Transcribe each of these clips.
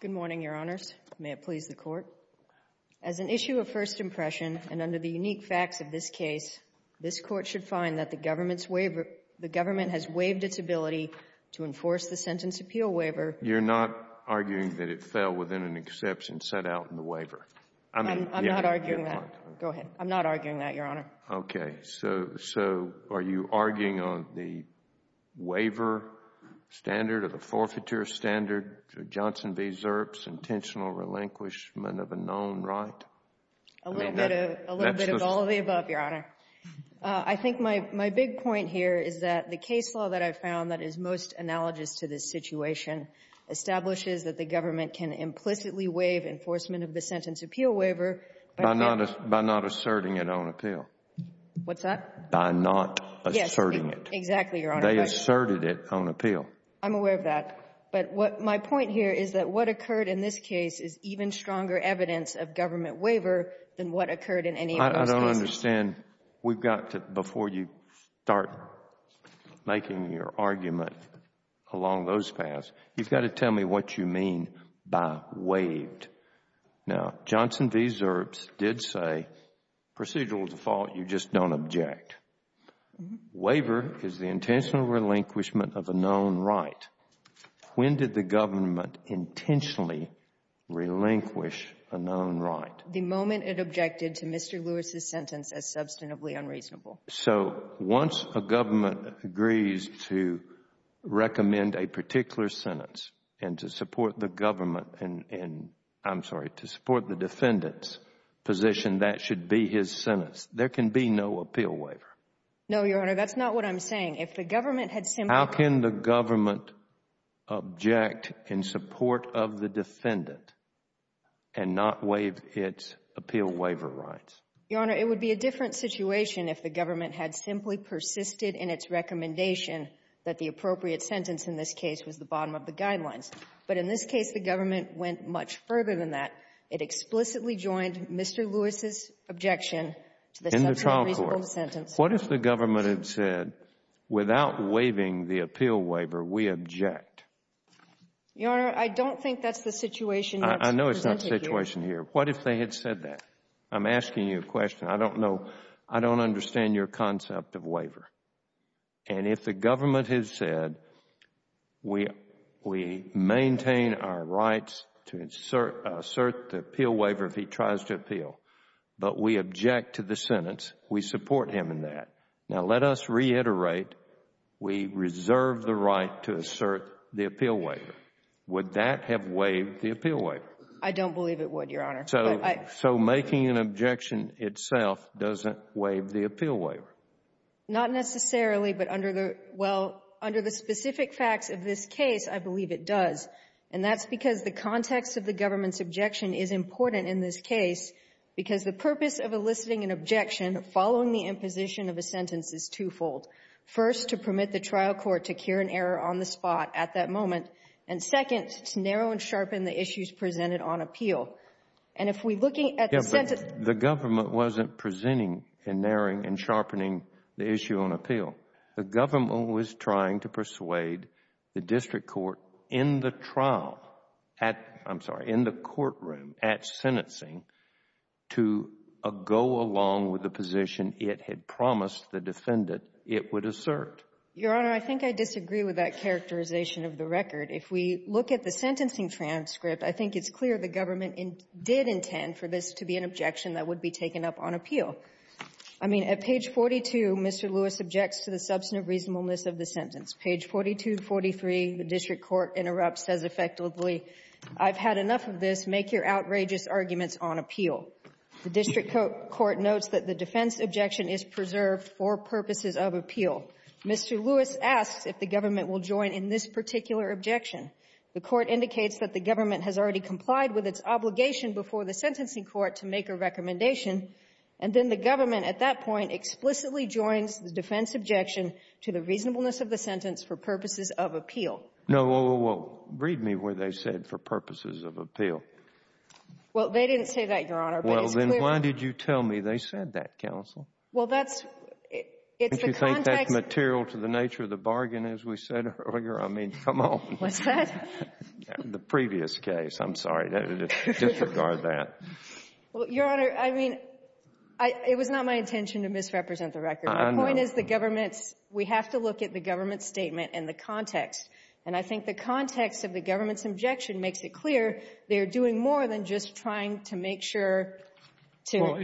Good morning, Your Honors. May it please the Court. As an issue of first impression and under the unique facts of this case, this Court should find that the government has waived its ability to enforce the Sentence Appeal Waiver. You're not arguing that it fell within an exception set out in the waiver? I'm not arguing that. Go ahead. I'm not arguing that, Your Honor. Okay. So are you arguing on the waiver standard or the forfeiture standard, Johnson v. Zerps, intentional relinquishment of a known right? A little bit of all of the above, Your Honor. I think my big point here is that the case law that I've found that is most analogous to this situation establishes that the government can implicitly waive enforcement of the Sentence Appeal Waiver by not asserting it on appeal. What's that? By not asserting it. Yes. Exactly, Your Honor. They asserted it on appeal. I'm aware of that. But my point here is that what occurred in this case is even stronger evidence of government waiver than what occurred in any of those cases. I don't understand. We've got to, before you start making your argument along those paths, you've got to tell me what you mean by waived. Now, Johnson v. Zerps did say procedural default, you just don't object. Waiver is the intentional relinquishment of a known right. When did the government intentionally relinquish a known right? The moment it objected to Mr. Lewis's sentence as substantively unreasonable. So once a government agrees to recommend a particular sentence and to support the government and, I'm sorry, to support the defendant's position, that should be his sentence. There can be no appeal waiver. No, Your Honor. That's not what I'm saying. If the government had simply— Your Honor, it would be a different situation if the government had simply persisted in its recommendation that the appropriate sentence in this case was the bottom of the guidelines. But in this case, the government went much further than that. It explicitly joined Mr. Lewis's objection to the subjectively unreasonable sentence. What if the government had said, without waiving the appeal waiver, we object? Your Honor, I don't think that's the situation that's presented here. I know it's not the situation here. What if they had said that? I'm asking you a question. I don't know. I don't understand your concept of waiver. And if the government had said, we maintain our rights to assert the appeal waiver if he tries to appeal, but we object to the sentence, we support him in that. Now let us reiterate, we reserve the right to assert the appeal waiver. Would that have waived the appeal waiver? I don't believe it would, Your Honor. So making an objection itself doesn't waive the appeal waiver? Not necessarily, but under the specific facts of this case, I believe it does. And that's because the context of the government's objection is important in this case because the purpose of eliciting an objection following the imposition of a sentence is twofold. First, to permit the trial court to cure an error on the spot at that moment. And second, to narrow and sharpen the issues presented on appeal. And if we're looking at the sentence Yes, but the government wasn't presenting and narrowing and sharpening the issue on appeal. The government was trying to persuade the district court in the trial at, I'm sorry, in the courtroom at sentencing to go along with the position it had promised the defendant it would assert. Your Honor, I think I disagree with that characterization of the record. If we look at the sentencing transcript, I think it's clear the government did intend for this to be an objection that would be taken up on appeal. I mean, at page 42, Mr. Lewis objects to the substantive reasonableness of the sentence. Page 4243, the district court interrupts, says effectively, I've had enough of this. Make your outrageous arguments on appeal. The district court notes that the defense objection is preserved for purposes of appeal. Mr. Lewis asks if the government will join in this particular objection. The court indicates that the government has already complied with its obligation before the sentencing court to make a recommendation, and then the government at that point explicitly joins the defense objection to the reasonableness of the sentence for purposes of appeal. No, well, read me where they said for purposes of appeal. Well, they didn't say that, Your Honor. Well, then why did you tell me they said that, counsel? Well, that's, it's the context. Don't you think that's material to the nature of the bargain, as we said earlier? I mean, come on. What's that? The previous case. I'm sorry, disregard that. Well, Your Honor, I mean, it was not my intention to misrepresent the record. I know. The point is the government's, we have to look at the government's statement and the context. And I think the context of the government's objection makes it clear they're doing more than just trying to make sure to. Well,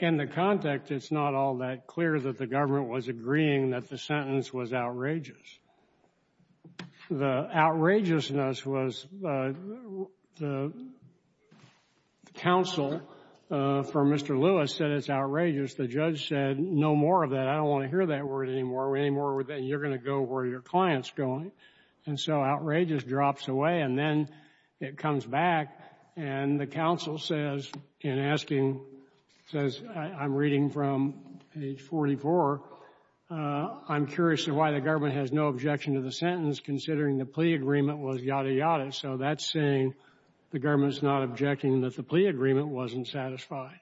in the context, it's not all that clear that the government was agreeing that the sentence was outrageous. The outrageousness was the counsel for Mr. Lewis said it's outrageous. The judge said, no more of that. I don't want to hear that word anymore. You're going to go where your client's going. And so outrageous drops away, and then it comes back, and the counsel says, in asking, says, I'm reading from page 44, I'm curious as to why the government has no objection to the sentence considering the plea agreement was yada, yada. So that's saying the government's not objecting that the plea agreement wasn't satisfied.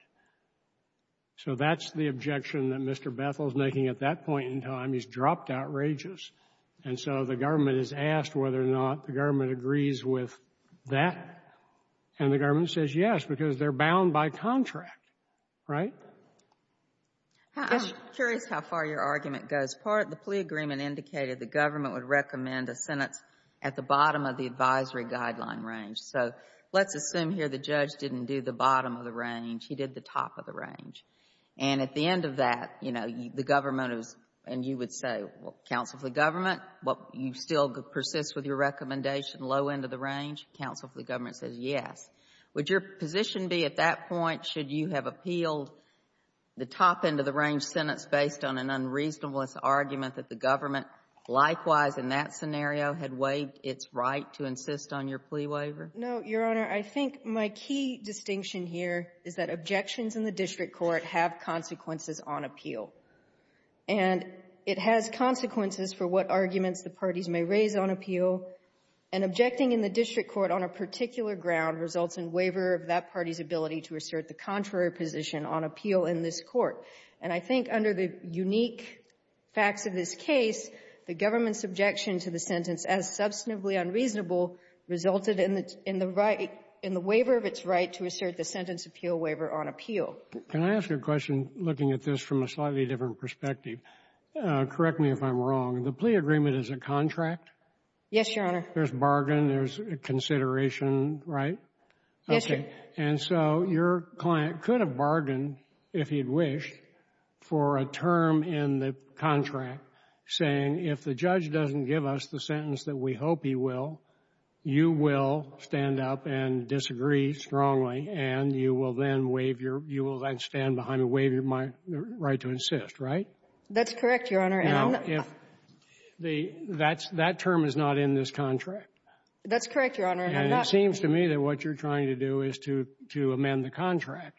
So that's the objection that Mr. Bethel's making at that point in time. He's dropped outrageous. And so the government is asked whether or not the government agrees with that, and the government says yes because they're bound by contract, right? I'm curious how far your argument goes. Part of the plea agreement indicated the government would recommend a sentence at the bottom of the advisory guideline range. So let's assume here the judge didn't do the bottom of the range. He did the top of the range. And at the end of that, you know, the government was, and you would say, well, counsel for the government, but you still persist with your recommendation, low end of the range. Counsel for the government says yes. Would your position be at that point, should you have appealed the top end of the range sentence based on an unreasonableness argument that the government likewise in that scenario had waived its right to insist on your plea waiver? No, Your Honor. I think my key distinction here is that objections in the district court have consequences on appeal. And it has consequences for what arguments the parties may raise on appeal. And objecting in the district court on a particular ground results in waiver of that party's ability to assert the contrary position on appeal in this court. And I think under the unique facts of this case, the government's objection to the sentence as substantively unreasonable resulted in the right, in the waiver of its right to assert the sentence appeal waiver on appeal. Can I ask you a question, looking at this from a slightly different perspective? Correct me if I'm wrong. The plea agreement is a contract? Yes, Your Honor. There's bargain, there's consideration, right? Yes, Your Honor. And so your client could have bargained, if he'd wish, for a term in the contract saying, if the judge doesn't give us the sentence that we hope he will, you will stand up and disagree strongly, and you will then waive your — you will then stand behind and waive your right to insist, right? That's correct, Your Honor. Now, if the — that's — that term is not in this contract. That's correct, Your Honor. And it seems to me that what you're trying to do is to amend the contract.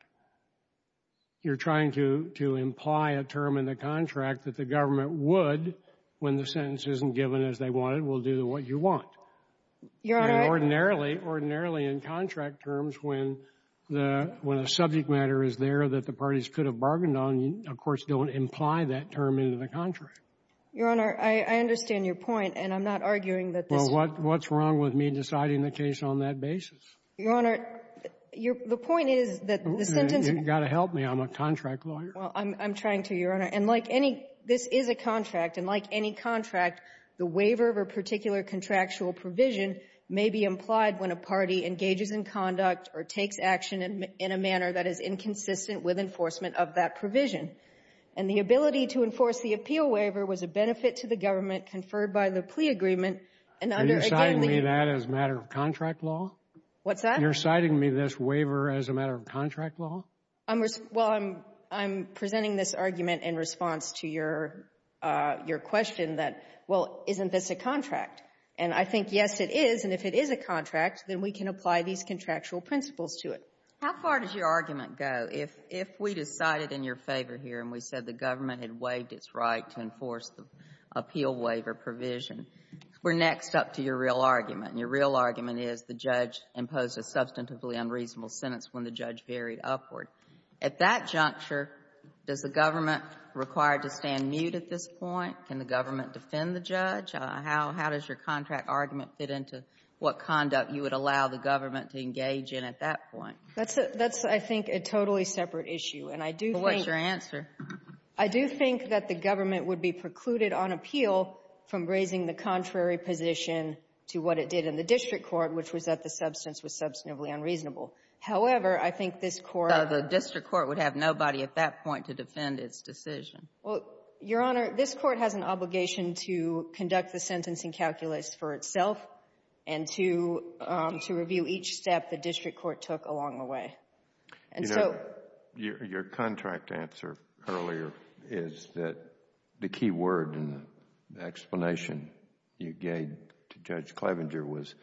You're trying to imply a term in the contract that the government would, when the sentence isn't given as they want it, will do what you want. Your Honor — Ordinarily, ordinarily, in contract terms, when the — when a subject matter is there that the parties could have bargained on, you, of course, don't imply that term into the contract. Your Honor, I understand your point, and I'm not arguing that this — Well, what's wrong with me deciding the case on that basis? Your Honor, your — the point is that the sentence — You've got to help me. I'm a contract lawyer. Well, I'm trying to, Your Honor. And like any — this is a contract. And like any contract, the waiver of a particular contractual provision may be implied when a party engages in conduct or takes action in a manner that is inconsistent with enforcement of that provision. And the ability to enforce the appeal waiver was a benefit to the government conferred by the plea agreement, and under — Are you citing me that as a matter of contract law? What's that? You're citing me this waiver as a matter of contract law? I'm — well, I'm presenting this argument in response to your question that, well, isn't this a contract? And I think, yes, it is. And if it is a contract, then we can apply these contractual principles to it. How far does your argument go? If we decided in your favor here and we said the government had waived its right to enforce the appeal waiver provision, we're next up to your real argument. And your real argument is the judge imposed a substantively unreasonable sentence when the judge varied upward. At that juncture, does the government require to stand mute at this point? Can the government defend the judge? How does your contract argument fit into what conduct you would allow the government to engage in at that point? That's a — that's, I think, a totally separate issue. And I do think — Well, what's your answer? I do think that the government would be precluded on appeal from raising the contrary position to what it did in the district court, which was that the substance was substantively unreasonable. However, I think this Court — The district court would have nobody at that point to defend its decision. Well, Your Honor, this Court has an obligation to conduct the sentencing calculus for itself and to review each step the district court took along the way. And so — You know, your contract answer earlier is that the key word in the explanation you gave to Judge Clevenger was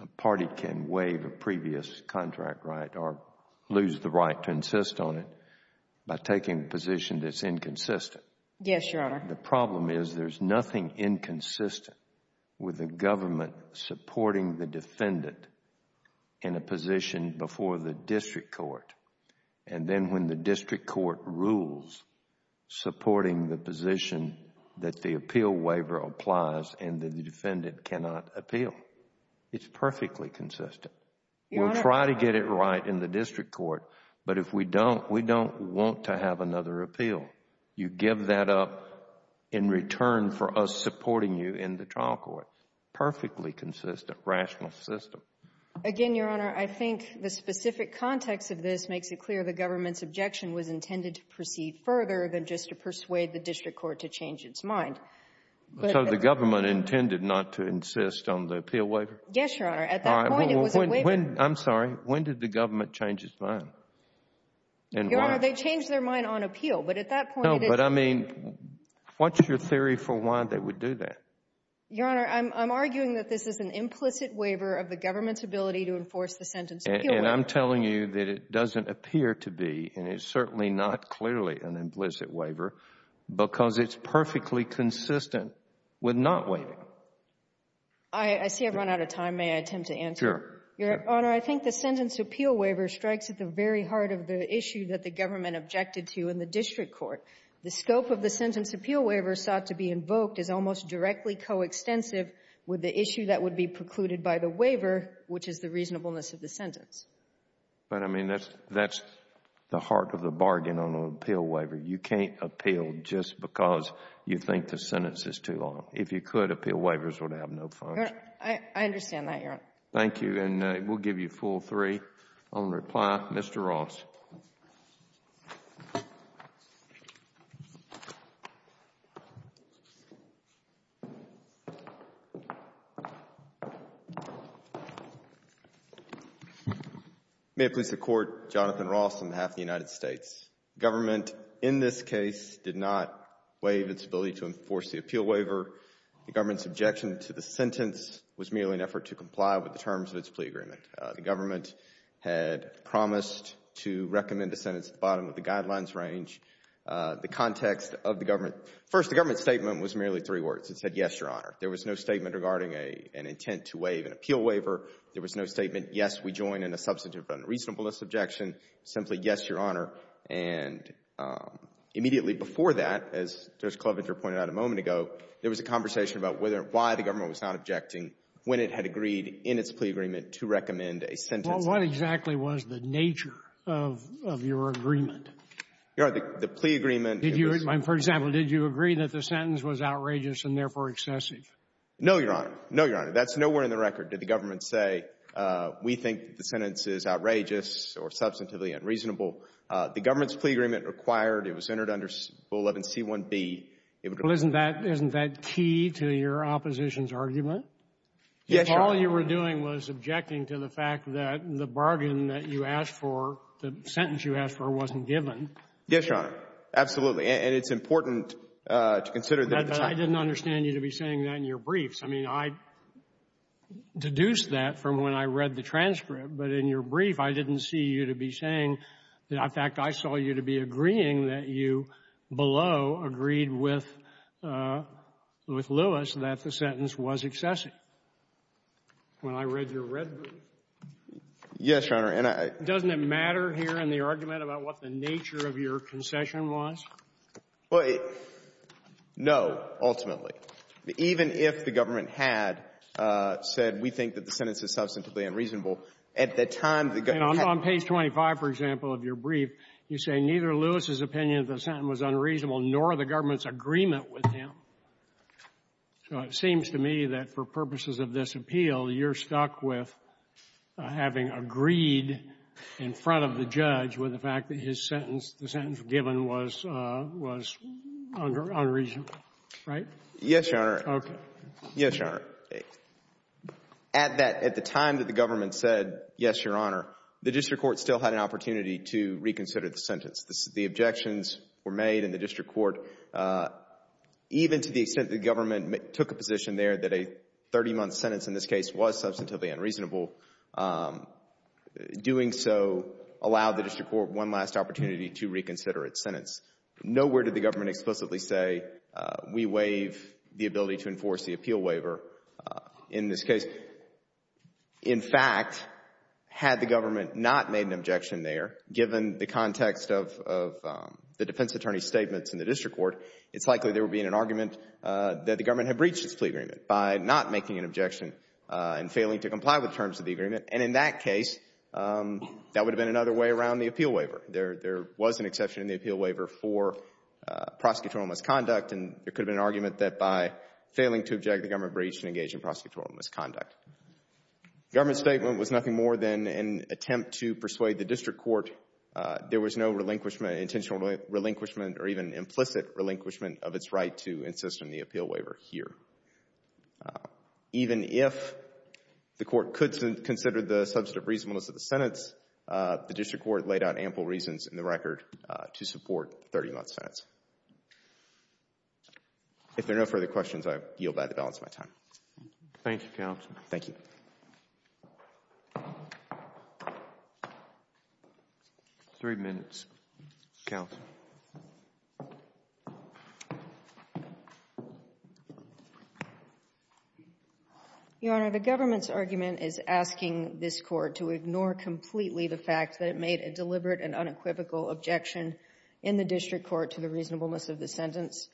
a party can waive a previous contract right or lose the right to insist on it by taking a position that's inconsistent. Yes, Your Honor. The problem is there's nothing inconsistent with the government supporting the defendant in a position before the district court. And then when the district court rules supporting the position that the appeal waiver applies and the defendant cannot appeal, it's perfectly consistent. Your Honor — We'll try to get it right in the district court. But if we don't, we don't want to have another appeal. You give that up in return for us supporting you in the trial court. Perfectly consistent rational system. Again, Your Honor, I think the specific context of this makes it clear the government's objection was intended to proceed further than just to persuade the district court to change its mind. But — So the government intended not to insist on the appeal waiver? Yes, Your Honor. At that point, it was a waiver. I'm sorry. When did the government change its mind? And why? Your Honor, they changed their mind on appeal. But at that point — No, but I mean, what's your theory for why they would do that? Your Honor, I'm arguing that this is an implicit waiver of the government's ability to enforce the sentence appeal waiver. And I'm telling you that it doesn't appear to be, and it's certainly not clearly, an implicit waiver because it's perfectly consistent with not waiving. I see I've run out of time. May I attempt to answer? Sure. Your Honor, I think the sentence appeal waiver strikes at the very heart of the issue that the government objected to in the district court. The scope of the sentence appeal waiver sought to be invoked is almost directly coextensive with the issue that would be precluded by the waiver, which is the reasonableness of the sentence. But, I mean, that's the heart of the bargain on an appeal waiver. You can't appeal just because you think the sentence is too long. If you could, appeal waivers would have no function. I understand that, Your Honor. Thank you. And we'll give you a full three on reply. Mr. Ross. May it please the Court, Jonathan Ross on behalf of the United States. Government, in this case, did not waive its ability to enforce the appeal waiver. The government's objection to the sentence was merely an effort to comply with the terms of its plea agreement. The government had promised to recommend a sentence at the bottom of the guidelines range. The context of the government, first, the government's statement was merely three words. It said, yes, Your Honor. There was no statement regarding an intent to waive an appeal waiver. There was no statement, yes, we join in a substantive unreasonableness objection. Simply, yes, Your Honor. And immediately before that, as Judge Klobuchar pointed out a moment ago, there was a conversation about why the government was not objecting when it had agreed in its plea agreement to recommend a sentence. What exactly was the nature of your agreement? Your Honor, the plea agreement. Did you, for example, did you agree that the sentence was outrageous and therefore excessive? No, Your Honor. No, Your Honor. That's nowhere in the record did the government say, we think the sentence is outrageous or substantively unreasonable. The government's plea agreement required it was entered under Rule 11C1B. Well, isn't that key to your opposition's argument? Yes, Your Honor. All you were doing was objecting to the fact that the bargain that you asked for, the sentence you asked for, wasn't given. Yes, Your Honor. Absolutely. And it's important to consider that at the time. But I didn't understand you to be saying that in your briefs. I mean, I deduced that from when I read the transcript. But in your brief, I didn't see you to be saying that, in fact, I saw you to be agreeing that you below agreed with Lewis that the sentence was excessive. When I read your red brief? Yes, Your Honor. And I — Doesn't it matter here in the argument about what the nature of your concession was? Well, no, ultimately. Even if the government had said, we think that the sentence is substantively unreasonable, at the time the — And on page 25, for example, of your brief, you say neither Lewis's opinion of the sentence was unreasonable nor the government's agreement with him. So it seems to me that for purposes of this appeal, you're stuck with having agreed in front of the judge with the fact that his sentence — the sentence given was unreasonable, right? Yes, Your Honor. Okay. Yes, Your Honor. At that — at the time that the government said, yes, Your Honor, the district court still had an opportunity to reconsider the sentence. The objections were made in the district court, even to the extent that the government took a position there that a 30-month sentence in this case was substantively unreasonable. Doing so allowed the district court one last opportunity to reconsider its sentence. Nowhere did the government explicitly say, we waive the ability to enforce the appeal waiver in this case. In fact, had the government not made an objection there, given the context of the defense attorney's statements in the district court, it's likely there would be an argument that the government had breached its plea agreement by not making an objection and failing to comply with terms of the agreement. And in that case, that would have been another way around the appeal waiver. There was an exception in the appeal waiver for prosecutorial misconduct, and there could have been an argument that by failing to object, the government breached and engaged in prosecutorial misconduct. Government's statement was nothing more than an attempt to persuade the district court there was no relinquishment, intentional relinquishment, or even implicit relinquishment of its right to insist on the appeal waiver here. Even if the court could consider the substantive reasonableness of the sentence, the district court laid out ample reasons in the record to support 30-month sentence. If there are no further questions, I yield back the balance of my time. Thank you, Counsel. Thank you. Three minutes. Counsel. Your Honor, the government's argument is asking this Court to ignore completely the fact that it made a deliberate and unequivocal objection in the district court to the reasonableness of the sentence.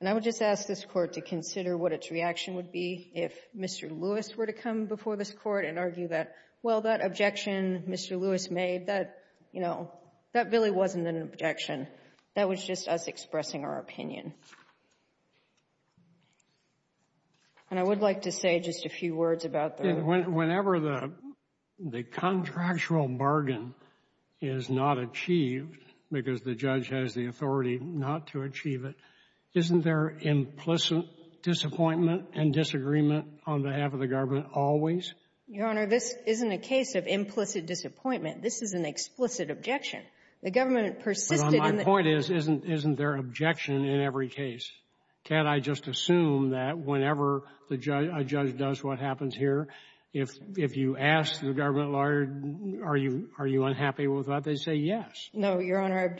And I would just ask this Court to consider what its reaction would be if Mr. Lewis were to come before this Court and argue that, well, that objection Mr. Lewis made, that, you know, that really wasn't an objection. That was just us expressing our opinion. And I would like to say just a few words about the — Whenever the contractual bargain is not achieved because the judge has the objection, isn't there implicit disappointment and disagreement on behalf of the government always? Your Honor, this isn't a case of implicit disappointment. This is an explicit objection. The government persisted in the — But my point is, isn't there objection in every case? Can't I just assume that whenever a judge does what happens here, if you ask the government lawyer, are you unhappy with that, they say yes? No, Your Honor.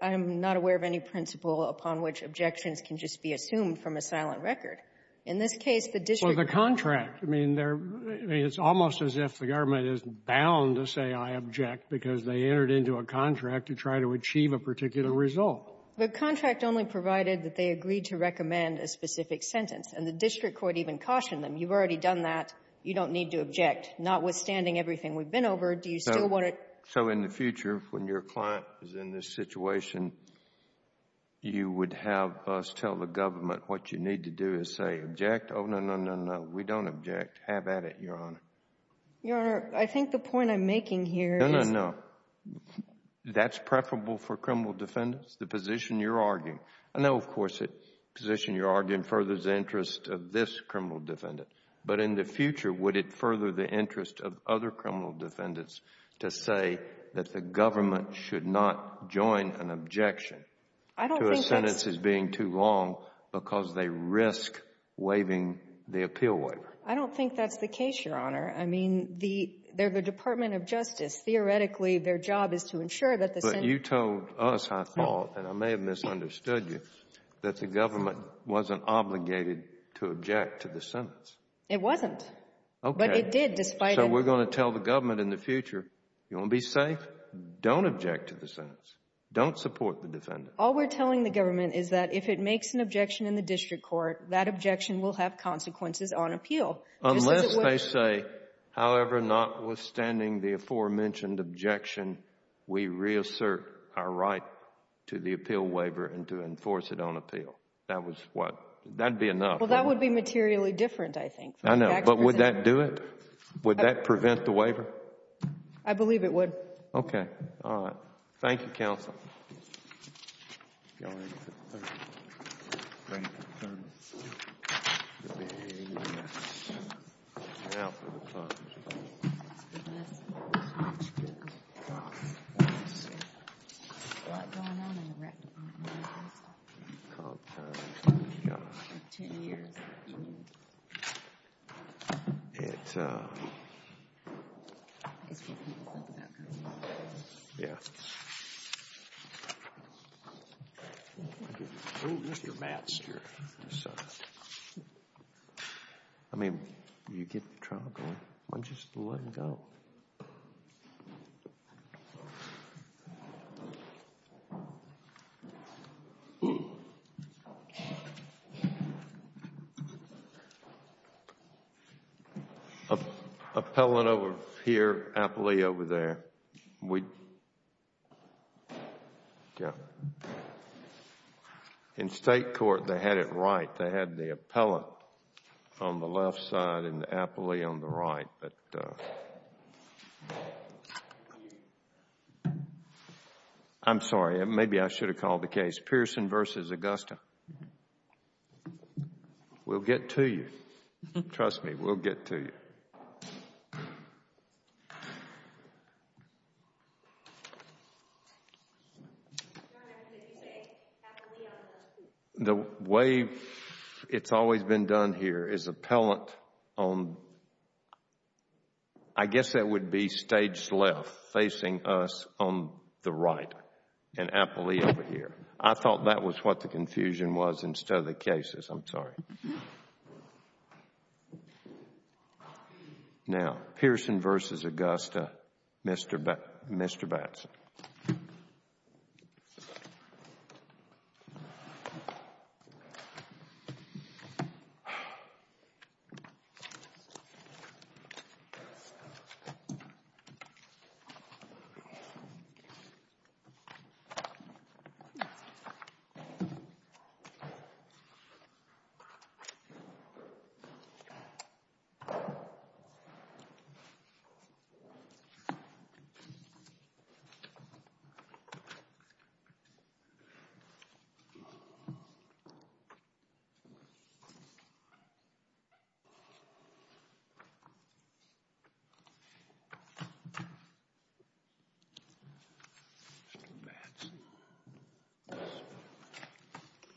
I'm not aware of any principle upon which objections can just be assumed from a silent record. In this case, the district court — Well, the contract. I mean, there — I mean, it's almost as if the government is bound to say I object because they entered into a contract to try to achieve a particular result. The contract only provided that they agreed to recommend a specific sentence. And the district court even cautioned them. You've already done that. You don't need to object. Notwithstanding everything we've been over, do you still want to — So in the future, when your client is in this situation, you would have us tell the government what you need to do is say, object? Oh, no, no, no, no. We don't object. Have at it, Your Honor. Your Honor, I think the point I'm making here is — No, no, no. That's preferable for criminal defendants. The position you're arguing — I know, of course, the position you're arguing furthers the interest of this criminal defendant. But in the future, would it further the interest of other criminal defendants to say that the government should not join an objection to a sentence as being too long because they risk waiving the appeal waiver? I don't think that's the case, Your Honor. I mean, the — they're the Department of Justice. Theoretically, their job is to ensure that the — But you told us, I thought, and I may have misunderstood you, that the government wasn't obligated to object to the sentence. It wasn't. Okay. But it did, despite — So we're going to tell the government in the future, you want to be safe? Don't object to the sentence. Don't support the defendant. All we're telling the government is that if it makes an objection in the district court, that objection will have consequences on appeal. Unless they say, however, notwithstanding the aforementioned objection, we reassert our right to the appeal waiver and to enforce it on appeal. That was what — that'd be enough. That would be materially different, I think. I know. But would that do it? Would that prevent the waiver? I believe it would. Okay. All right. Thank you, counsel. Appellant over here, appellee over there. We — yeah. In state court, they had it right. They had the appellant on the left side and the appellee on the right. But I'm sorry. Maybe I should have called the case. Pearson v. Augusta. We'll get to you. Trust me. We'll get to you. The way it's always been done here is appellant on, I guess that would be staged left facing us on the right and appellee over here. I thought that was what the confusion was instead of the cases. I'm sorry. Now, Pearson v. Augusta, Mr. Batson. Mr. Batson.